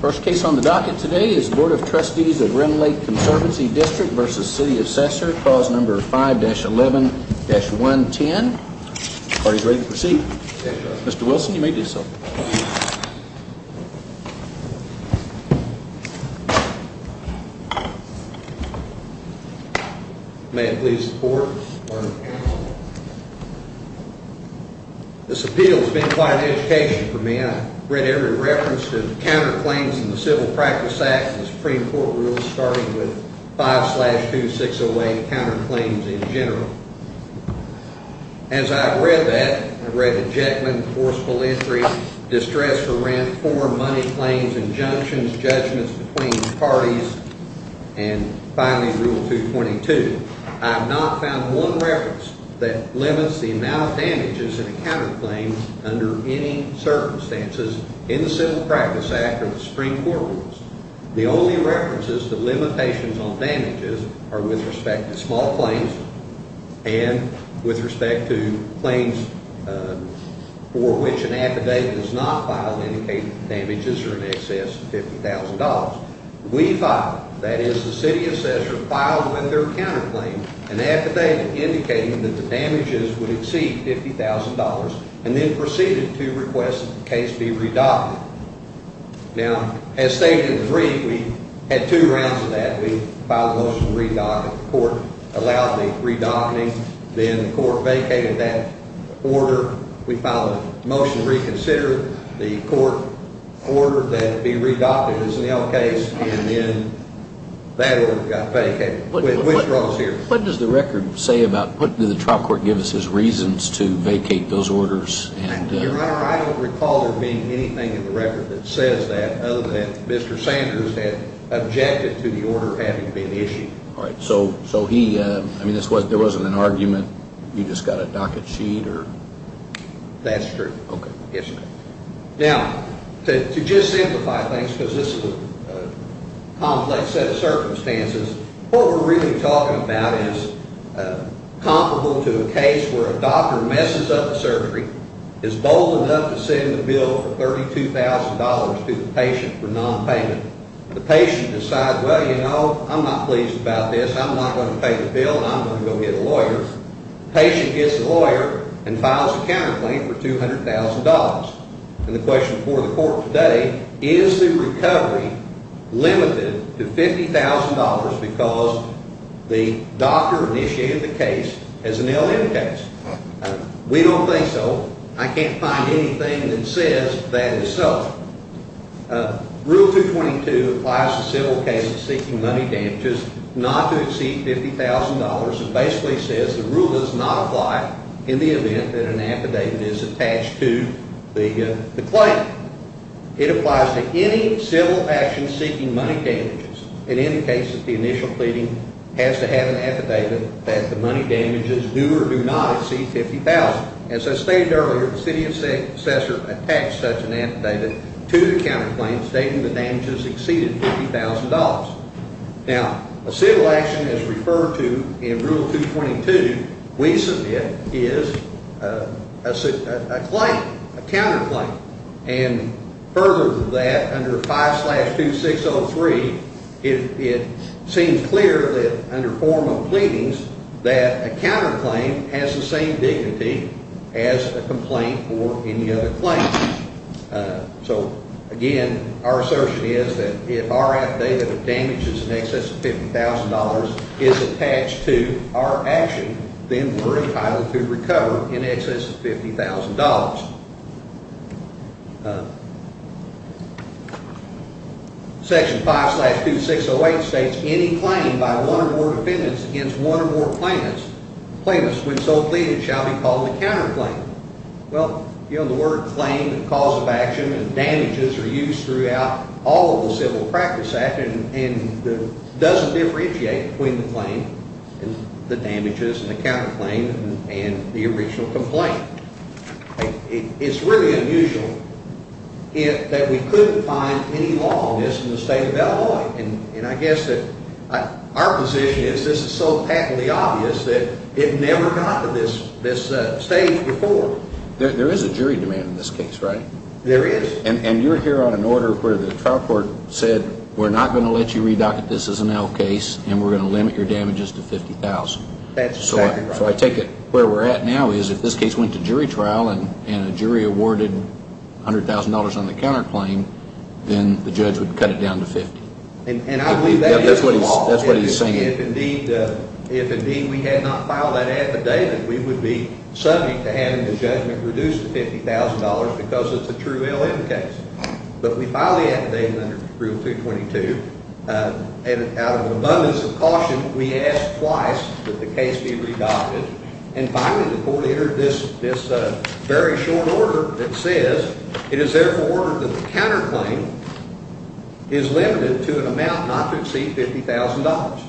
First case on the docket today is Bd of Trustees of Rend Lake Conservancy District v. City of Sesser. Clause number 5-11-110. The party is ready to proceed. Mr. Wilson, you may do so. May I please the board? This appeal has been quite an education for me. I've read every reference to counterclaims in the Civil Practice Act and the Supreme Court rules, starting with 5-2-608, counterclaims in general. As I've read that, I've read the Jetman, forcible entry, distress for rent, four money claims, injunctions, judgments between parties, and finally Rule 222. I have not found one reference that limits the amount of damages in a counterclaim under any circumstances in the Civil Practice Act or the Supreme Court rules. The only references to limitations on damages are with respect to small claims and with respect to claims for which an affidavit is not filed indicating the damages are in excess of $50,000. We filed, that is the City of Sesser filed with their counterclaim, an affidavit indicating that the damages would exceed $50,000 and then proceeded to request the case be redacted. Now, as stated in 3, we had two rounds of that. We filed a motion to redact it. The court allowed the redacting. Then the court vacated that order. We filed a motion to reconsider the court order that it be redacted as an L case and then that order got vacated. What does the record say about, what do the trial court give us as reasons to vacate those orders? Your Honor, I don't recall there being anything in the record that says that other than Mr. Sanders had objected to the order having been issued. All right, so he, I mean there wasn't an argument, you just got a docket sheet or? That's true. Okay. Now, to just simplify things because this is a complex set of circumstances, what we're really talking about is comparable to a case where a doctor messes up the surgery, is bold enough to send the bill for $32,000 to the patient for non-payment. The patient decides, well, you know, I'm not pleased about this. I'm not going to pay the bill and I'm going to go get a lawyer. The patient gets a lawyer and files a counterclaim for $200,000. And the question before the court today, is the recovery limited to $50,000 because the doctor initiated the case as an L.M. case? We don't think so. I can't find anything that says that is so. Rule 222 applies to civil cases seeking money damages not to exceed $50,000. It basically says the rule does not apply in the event that an affidavit is attached to the claim. It applies to any civil action seeking money damages. It indicates that the initial pleading has to have an affidavit that the money damages do or do not exceed $50,000. As I stated earlier, the city assessor attached such an affidavit to the counterclaim stating the damages exceeded $50,000. Now, a civil action as referred to in Rule 222 we submit is a claim, a counterclaim. And further to that, under 5-2603, it seems clear that under form of pleadings that a counterclaim has the same dignity as a complaint or any other claim. So, again, our assertion is that if our affidavit of damages in excess of $50,000 is attached to our action, then we're entitled to recover in excess of $50,000. Section 5-2608 states any claim by one or more defendants against one or more plaintiffs, when so pleaded, shall be called a counterclaim. Well, you know, the word claim, the cause of action, and damages are used throughout all of the Civil Practice Act, and it doesn't differentiate between the claim and the damages and the counterclaim and the original complaint. It's really unusual that we couldn't find any law on this in the state of Illinois. And I guess that our position is this is so patently obvious that it never got to this stage before. There is a jury demand in this case, right? There is. And you're here on an order where the trial court said we're not going to let you re-docket this as an L case and we're going to limit your damages to $50,000. That's exactly right. So I take it where we're at now is if this case went to jury trial and a jury awarded $100,000 on the counterclaim, then the judge would cut it down to $50,000. And I believe that is the law. That's what he's saying. If indeed we had not filed that affidavit, we would be subject to having the judgment reduced to $50,000 because it's a true L case. But we filed the affidavit under Rule 222, and out of an abundance of caution, we asked twice that the case be re-docketed. And finally, the court entered this very short order that says it is therefore ordered that the counterclaim is limited to an amount not to exceed $50,000.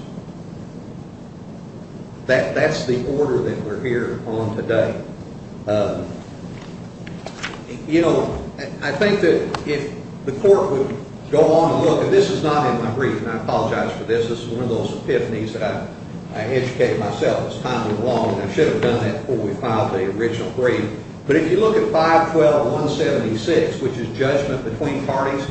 That's the order that we're here on today. You know, I think that if the court would go on and look, and this is not in my brief, and I apologize for this. This is one of those epiphanies that I educate myself. It's timely and long, and I should have done that before we filed the original brief. But if you look at 512.176, which is judgment between parties,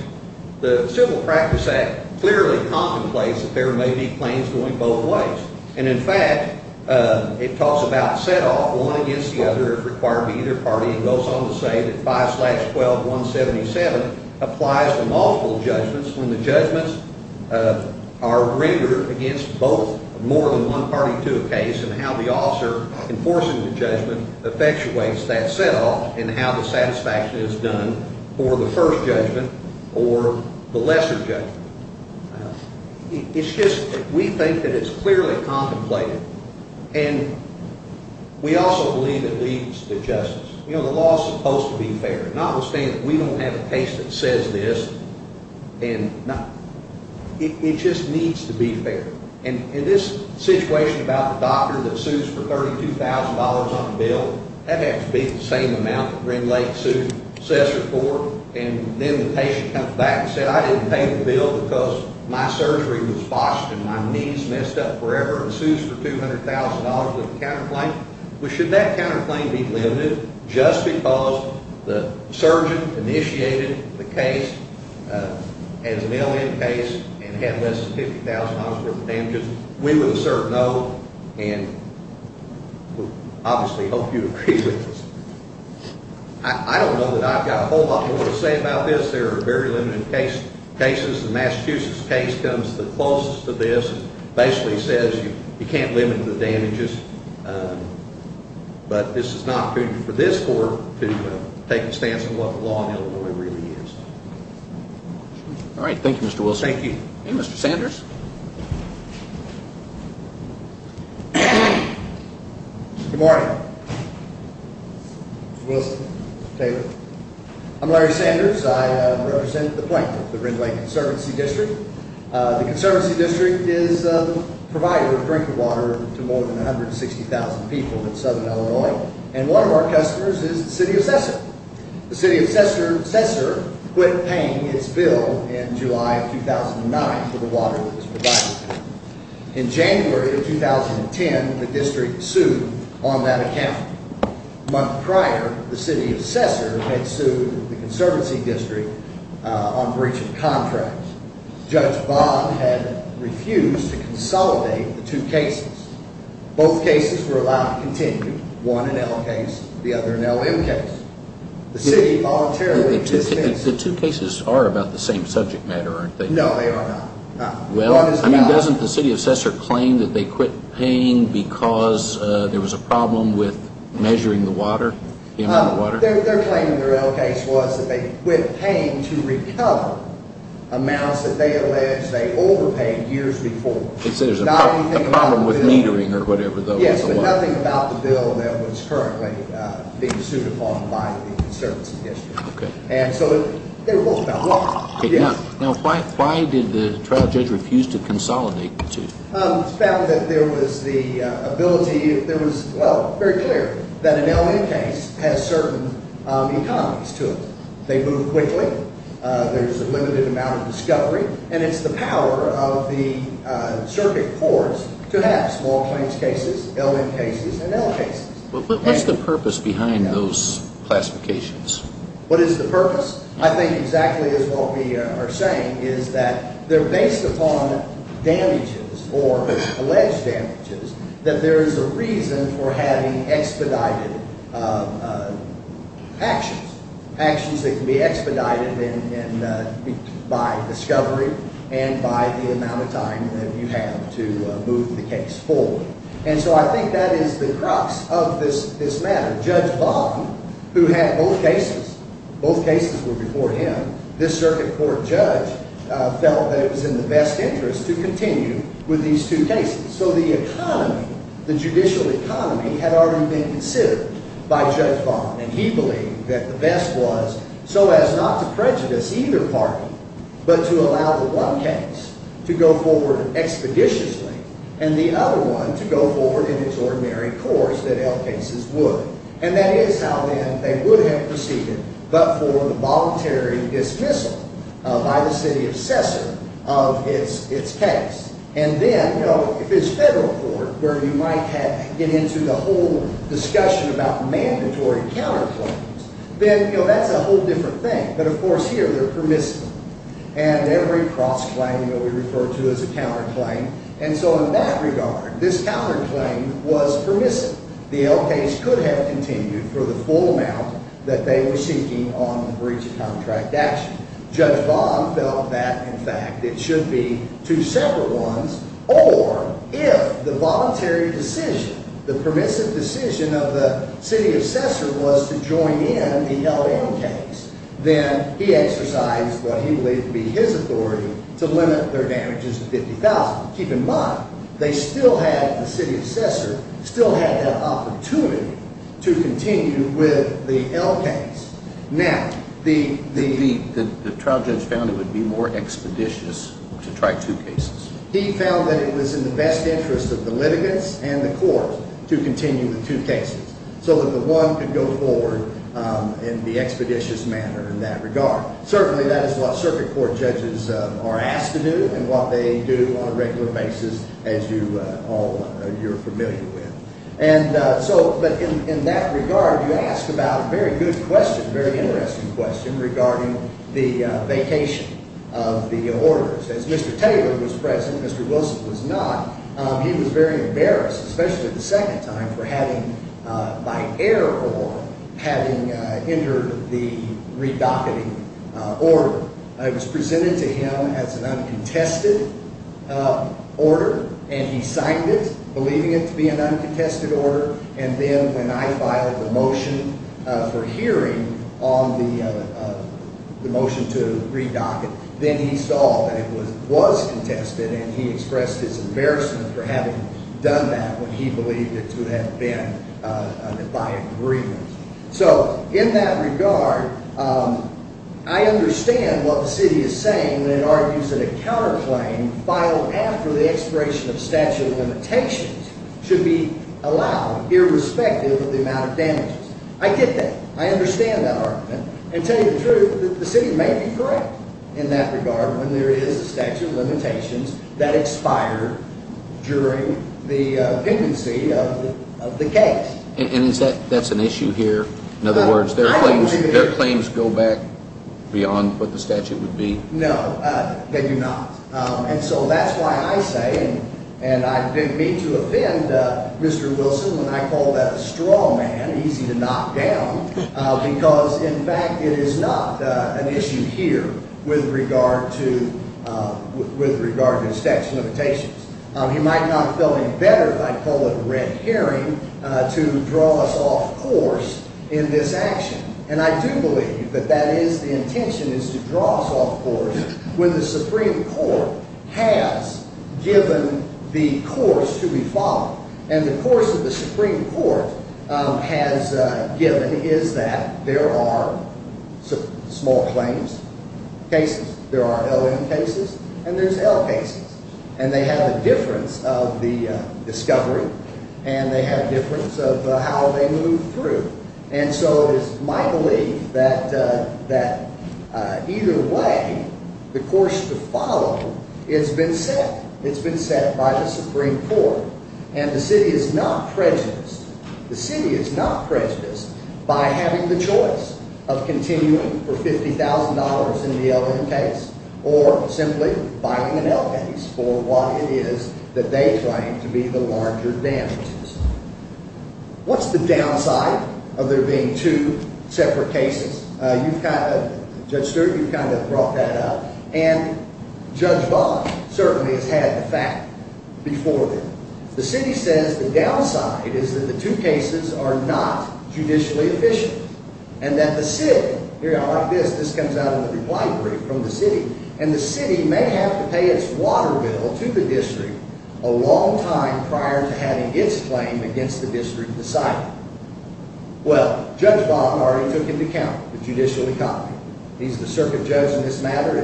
the Civil Practice Act clearly contemplates that there may be claims going both ways. And, in fact, it talks about set-off, one against the other, if required by either party. It goes on to say that 512.177 applies to multiple judgments when the judgments are rendered against both more than one party to a case and how the officer enforcing the judgment effectuates that set-off and how the satisfaction is done for the first judgment or the lesser judgment. It's just we think that it's clearly contemplated, and we also believe it leads to justice. You know, the law is supposed to be fair. Notwithstanding that we don't have a case that says this, it just needs to be fair. And this situation about the doctor that sues for $32,000 on a bill, that has to be the same amount that Green Lake sued Sess report. And then the patient comes back and says, I didn't pay the bill because my surgery was botched and my knee is messed up forever, and sues for $200,000 with a counterclaim. Well, should that counterclaim be limited just because the surgeon initiated the case as a mail-in case and had less than $50,000 worth of damages? We would assert no, and we obviously hope you agree with us. I don't know that I've got a whole lot more to say about this. There are very limited cases. The Massachusetts case comes the closest to this and basically says you can't limit the damages. But this is an opportunity for this court to take a stance on what the law in Illinois really is. All right, thank you, Mr. Wilson. Thank you. And Mr. Sanders? Good morning. Mr. Wilson, Mr. Taylor. I'm Larry Sanders. I represent the plaintiff, the Green Lake Conservancy District. The Conservancy District is a provider of drinking water to more than 160,000 people in southern Illinois. And one of our customers is the city of Sessor. The city of Sessor quit paying its bill in July of 2009 for the water that was provided. In January of 2010, the district sued on that account. A month prior, the city of Sessor had sued the Conservancy District on breach of contract. Judge Bob had refused to consolidate the two cases. Both cases were allowed to continue. One an L case, the other an LM case. The city voluntarily dismissed. The two cases are about the same subject matter, aren't they? No, they are not. Well, doesn't the city of Sessor claim that they quit paying because there was a problem with measuring the water? Their claim in their L case was that they quit paying to recover amounts that they alleged they overpaid years before. They said there was a problem with metering or whatever, though. Yes, but nothing about the bill that was currently being sued upon by the Conservancy District. Okay. And so they were both about water. Now, why did the trial judge refuse to consolidate the two? It's found that there was the ability, well, very clear, that an LM case has certain economics to it. They move quickly. There's a limited amount of discovery. And it's the power of the circuit courts to have small claims cases, LM cases, and L cases. But what's the purpose behind those classifications? What is the purpose? I think exactly as what we are saying is that they're based upon damages or alleged damages, that there is a reason for having expedited actions, actions that can be expedited by discovery and by the amount of time that you have to move the case forward. And so I think that is the crux of this matter. Judge Vaughan, who had both cases, both cases were before him, this circuit court judge felt that it was in the best interest to continue with these two cases. So the economy, the judicial economy, had already been considered by Judge Vaughan. And he believed that the best was so as not to prejudice either party, but to allow the one case to go forward expeditiously and the other one to go forward in its ordinary course that L cases would. And that is how they would have proceeded but for the voluntary dismissal by the city assessor of its case. And then, you know, if it's federal court where you might get into the whole discussion about mandatory counterclaims, then, you know, that's a whole different thing. But, of course, here they're permissible. And every cross-claim will be referred to as a counterclaim. And so in that regard, this counterclaim was permissive. The L case could have continued for the full amount that they were seeking on the breach of contract action. Judge Vaughan felt that, in fact, it should be two separate ones. Or if the voluntary decision, the permissive decision of the city assessor was to join in the LL case, then he exercised what he believed to be his authority to limit their damages to $50,000. Keep in mind, they still had, the city assessor still had that opportunity to continue with the L case. Now, the trial judge found it would be more expeditious to try two cases. He found that it was in the best interest of the litigants and the court to continue the two cases so that the one could go forward in the expeditious manner in that regard. Certainly, that is what circuit court judges are asked to do and what they do on a regular basis, as you all are familiar with. And so, but in that regard, you asked about a very good question, a very interesting question regarding the vacation of the orders. As Mr. Taylor was present, Mr. Wilson was not, he was very embarrassed, especially the second time, for having by air or having entered the redocketing order. It was presented to him as an uncontested order and he signed it, believing it to be an uncontested order. And then when I filed the motion for hearing on the motion to redock it, then he saw that it was contested and he expressed his embarrassment for having done that when he believed it to have been by agreement. So in that regard, I understand what the city is saying when it argues that a counterclaim filed after the expiration of statute of limitations should be allowed irrespective of the amount of damages. I get that. I understand that argument. And to tell you the truth, the city may be correct in that regard when there is a statute of limitations that expire during the pendency of the case. And that's an issue here? In other words, their claims go back beyond what the statute would be? No, they do not. And so that's why I say, and I didn't mean to offend Mr. Wilson when I called that a straw man, easy to knock down, because in fact it is not an issue here with regard to statute of limitations. He might not have felt any better if I called it a red herring to draw us off course in this action. And I do believe that that is the intention, is to draw us off course when the Supreme Court has given the course to be followed. And the course that the Supreme Court has given is that there are small claims cases. There are L.M. cases, and there's L. cases. And they have a difference of the discovery, and they have a difference of how they move through. And so it is my belief that either way, the course to follow has been set. It's been set by the Supreme Court. And the city is not prejudiced. The city is not prejudiced by having the choice of continuing for $50,000 in the L.M. case or simply filing an L. case for what it is that they claim to be the larger damages. What's the downside of there being two separate cases? You've kind of, Judge Stewart, you've kind of brought that up. And Judge Vaughn certainly has had the fact before them. The city says the downside is that the two cases are not judicially efficient and that the city, this comes out in the reply brief from the city, and the city may have to pay its water bill to the district a long time prior to having its claim against the district decided. Well, Judge Vaughn already took into account the judicially copied. He's the circuit judge in this matter.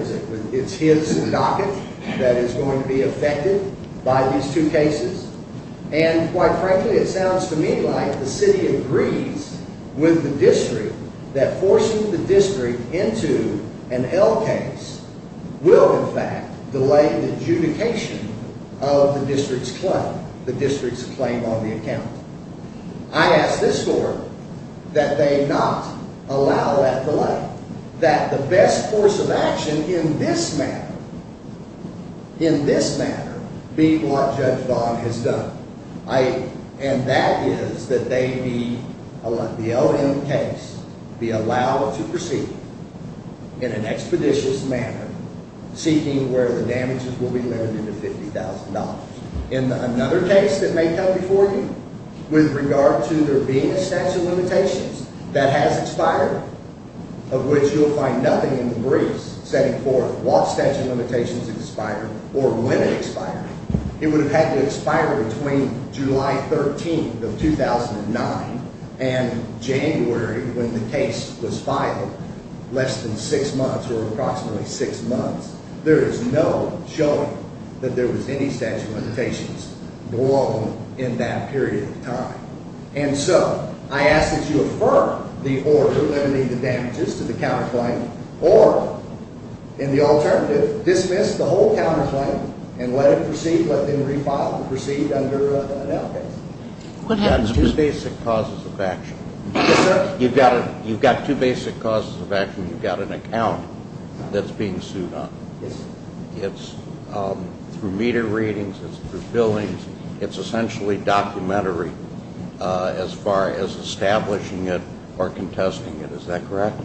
It's his docket that is going to be affected by these two cases. And quite frankly, it sounds to me like the city agrees with the district that forcing the district into an L. case will in fact delay the adjudication of the district's claim, the district's claim on the account. I ask this court that they not allow that delay, that the best course of action in this matter, in this matter, be what Judge Vaughn has done. And that is that they be, the L.M. case, be allowed to proceed in an expeditious manner, seeking where the damages will be limited to $50,000. In another case that may come before you, with regard to there being a statute of limitations that has expired, of which you'll find nothing in the briefs setting forth what statute of limitations expired or when it expired. It would have had to expire between July 13th of 2009 and January when the case was filed, less than six months or approximately six months. There is no showing that there was any statute of limitations blown in that period of time. And so I ask that you affirm the order limiting the damages to the counterclaim or, in the alternative, dismiss the whole counterclaim and let it proceed, let them refile and proceed under an L. case. You've got two basic causes of action. Yes, sir. You've got two basic causes of action. You've got an account that's being sued on. Yes, sir. It's through meter readings. It's through fillings. It's essentially documentary as far as establishing it or contesting it. Is that correct?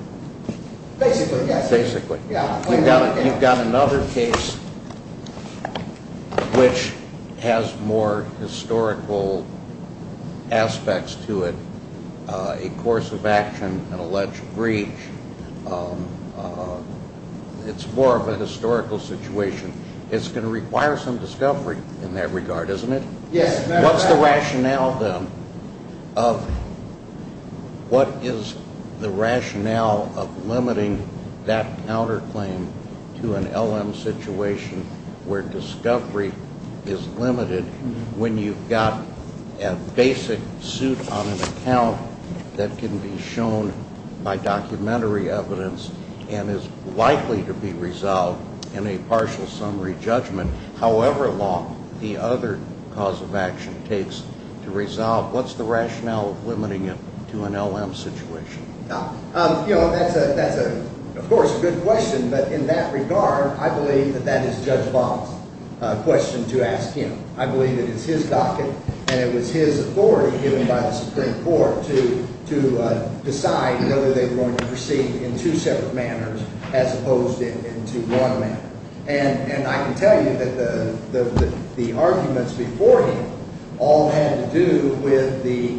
Basically, yes, sir. Basically. You've got another case which has more historical aspects to it, a course of action, an alleged breach. It's more of a historical situation. It's going to require some discovery in that regard, isn't it? Yes. What's the rationale then of what is the rationale of limiting that counterclaim to an L.M. situation where discovery is limited when you've got a basic suit on an account that can be shown by documentary evidence and is likely to be resolved in a partial summary judgment, however long the other cause of action takes to resolve? What's the rationale of limiting it to an L.M. situation? That's, of course, a good question. But in that regard, I believe that that is Judge Bob's question to ask him. I believe it is his docket, and it was his authority given by the Supreme Court to decide whether they were going to proceed in two separate manners as opposed to one manner. And I can tell you that the arguments before him all had to do with being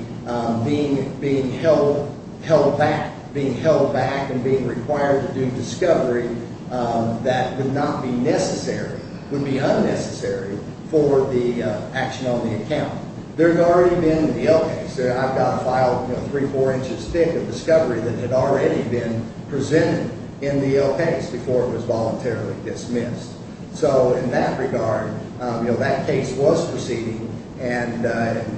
held back and being required to do discovery that would not be necessary, would be unnecessary for the action on the account. There had already been in the L case, I've got a file three, four inches thick of discovery that had already been presented in the L case before it was voluntarily dismissed. So in that regard, that case was proceeding, and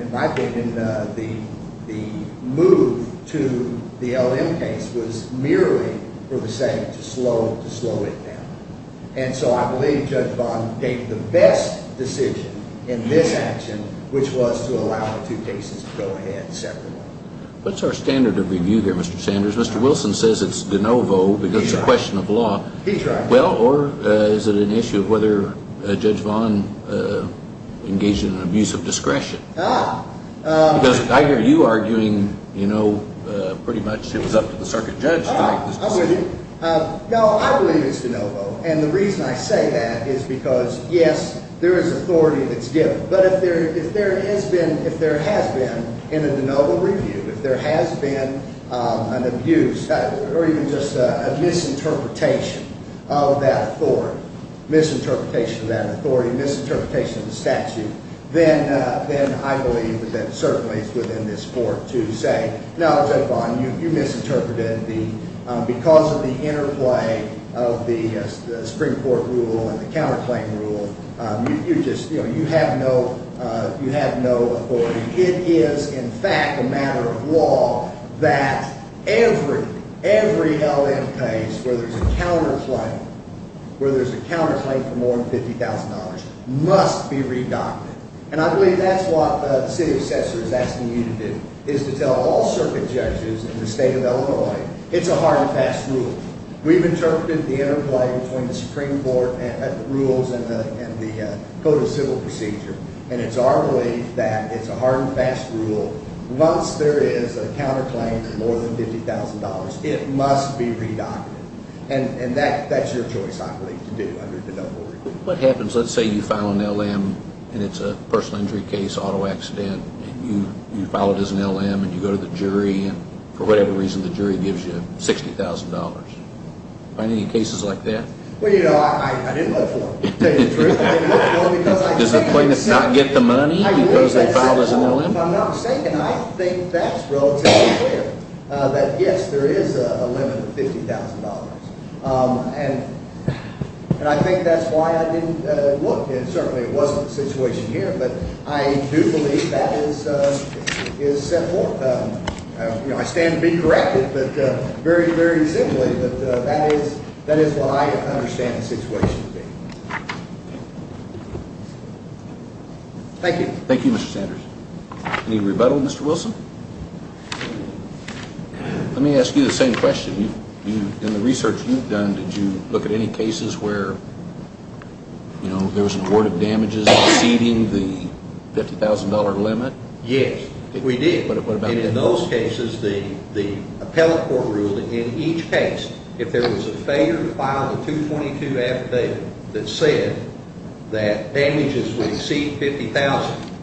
in my opinion, the move to the L.M. case was merely for the sake to slow it down. And so I believe Judge Vaughn made the best decision in this action, which was to allow the two cases to go ahead separately. What's our standard of review there, Mr. Sanders? Mr. Wilson says it's de novo because it's a question of law. He's right. Well, or is it an issue of whether Judge Vaughn engaged in an abuse of discretion? Ah. Because I hear you arguing, you know, pretty much it was up to the circuit judge to make this decision. No, I believe it's de novo. And the reason I say that is because, yes, there is authority that's given. But if there has been, in a de novo review, if there has been an abuse or even just a misinterpretation of that authority, misinterpretation of that authority, misinterpretation of the statute, then I believe that certainly it's within this Court to say, no, Judge Vaughn, you misinterpreted. Because of the interplay of the Supreme Court rule and the counterclaim rule, you just, you know, you have no authority. It is, in fact, a matter of law that every held-end case where there's a counterclaim, where there's a counterclaim for more than $50,000 must be redacted. And I believe that's what the city assessor is asking you to do, is to tell all circuit judges in the state of Illinois, it's a hard and fast rule. We've interpreted the interplay between the Supreme Court rules and the Code of Civil Procedure, and it's our belief that it's a hard and fast rule. Once there is a counterclaim for more than $50,000, it must be redacted. And that's your choice, I believe, to do under de novo review. What happens, let's say you file an LM and it's a personal injury case, auto accident, and you file it as an LM and you go to the jury, and for whatever reason the jury gives you $60,000. Are there any cases like that? Well, you know, I didn't look for them. Does the plaintiff not get the money because they filed as an LM? If I'm not mistaken, I think that's relatively fair, that, yes, there is a limit of $50,000. And I think that's why I didn't look, and certainly it wasn't the situation here, but I do believe that is set forth. You know, I stand to be corrected, but very, very simply, that is what I understand the situation to be. Thank you. Thank you, Mr. Sanders. Any rebuttal, Mr. Wilson? Let me ask you the same question. In the research you've done, did you look at any cases where, you know, there was an award of damages exceeding the $50,000 limit? Yes, we did. And in those cases, the appellate court ruled that in each case, if there was a failure to file a 222 affidavit that said that damages would exceed $50,000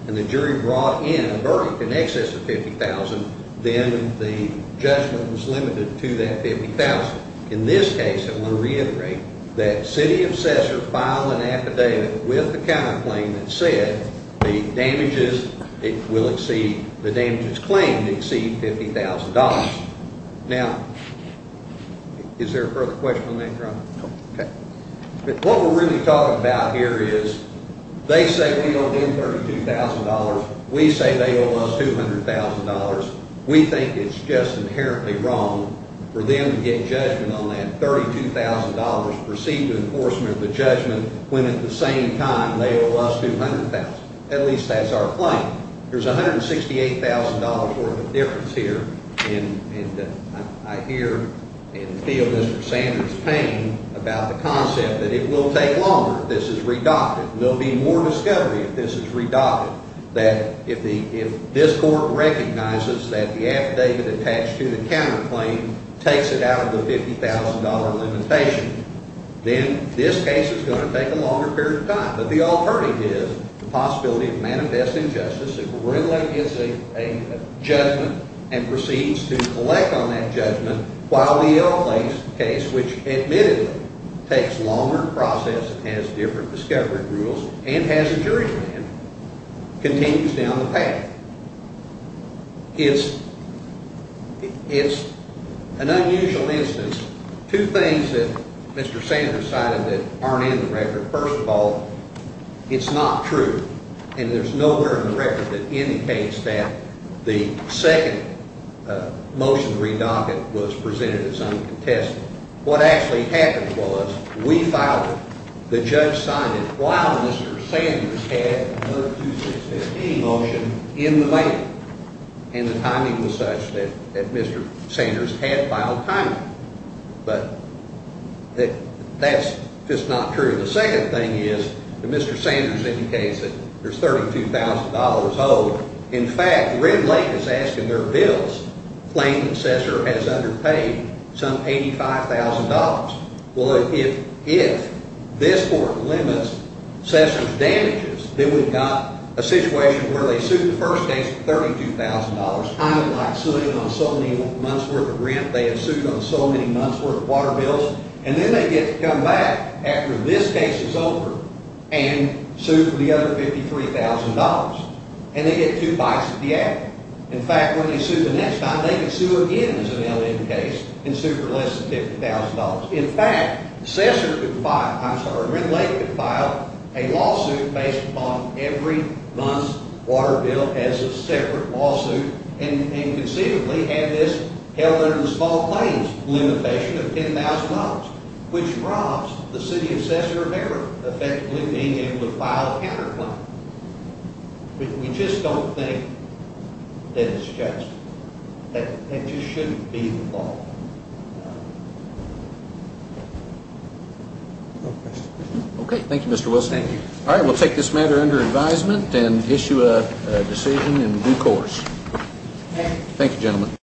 and the jury brought in a verdict in excess of $50,000, then the judgment was limited to that $50,000. In this case, I want to reiterate that city assessor filed an affidavit with the county claim that said the damages claimed exceed $50,000. Now, is there a further question on that, Your Honor? No. Okay. What we're really talking about here is they say we owe them $32,000. We say they owe us $200,000. We think it's just inherently wrong for them to get judgment on that $32,000 and proceed with enforcement of the judgment when at the same time they owe us $200,000, at least that's our claim. There's $168,000 worth of difference here, and I hear and feel Mr. Sanders' pain about the concept that it will take longer if this is redacted. There will be more discovery if this is redacted, that if this court recognizes that the affidavit attached to the county claim takes it out of the $50,000 limitation, then this case is going to take a longer period of time. But the alternative is the possibility of manifest injustice if it really is a judgment and proceeds to collect on that judgment while the Elk Lake case, which admittedly takes longer to process, has different discovery rules, and has a jury plan, continues down the path. It's an unusual instance. Two things that Mr. Sanders cited that aren't in the record. First of all, it's not true, and there's nowhere in the record that indicates that the second motion to redoct it was presented as uncontested. What actually happened was we filed it. The judge signed it while Mr. Sanders had a 12615 motion in the mail, and the timing was such that Mr. Sanders had filed timely. But that's just not true. The second thing is that Mr. Sanders indicates that there's $32,000 owed. In fact, Red Lake is asking their bills claiming Sessor has underpaid some $85,000. Well, if this court limits Sessor's damages, then we've got a situation where they sued the first case for $32,000. I don't like suing on so many months' worth of rent. They have sued on so many months' worth of water bills. And then they get to come back after this case is over and sue for the other $53,000. And they get two bites at the end. In fact, when they sue the next time, they can sue again as an LN case and sue for less than $50,000. In fact, Sessor could file—I'm sorry, Red Lake could file a lawsuit based upon every month's water bill as a separate lawsuit and conceivably have this held under the small claims limitation of $10,000, which robs the city of Sessor of ever effectively being able to file a counterclaim. We just don't think that it's just. That it just shouldn't be the law. Okay. Thank you, Mr. Wilson. Thank you. All right, we'll take this matter under advisement and issue a decision in due course.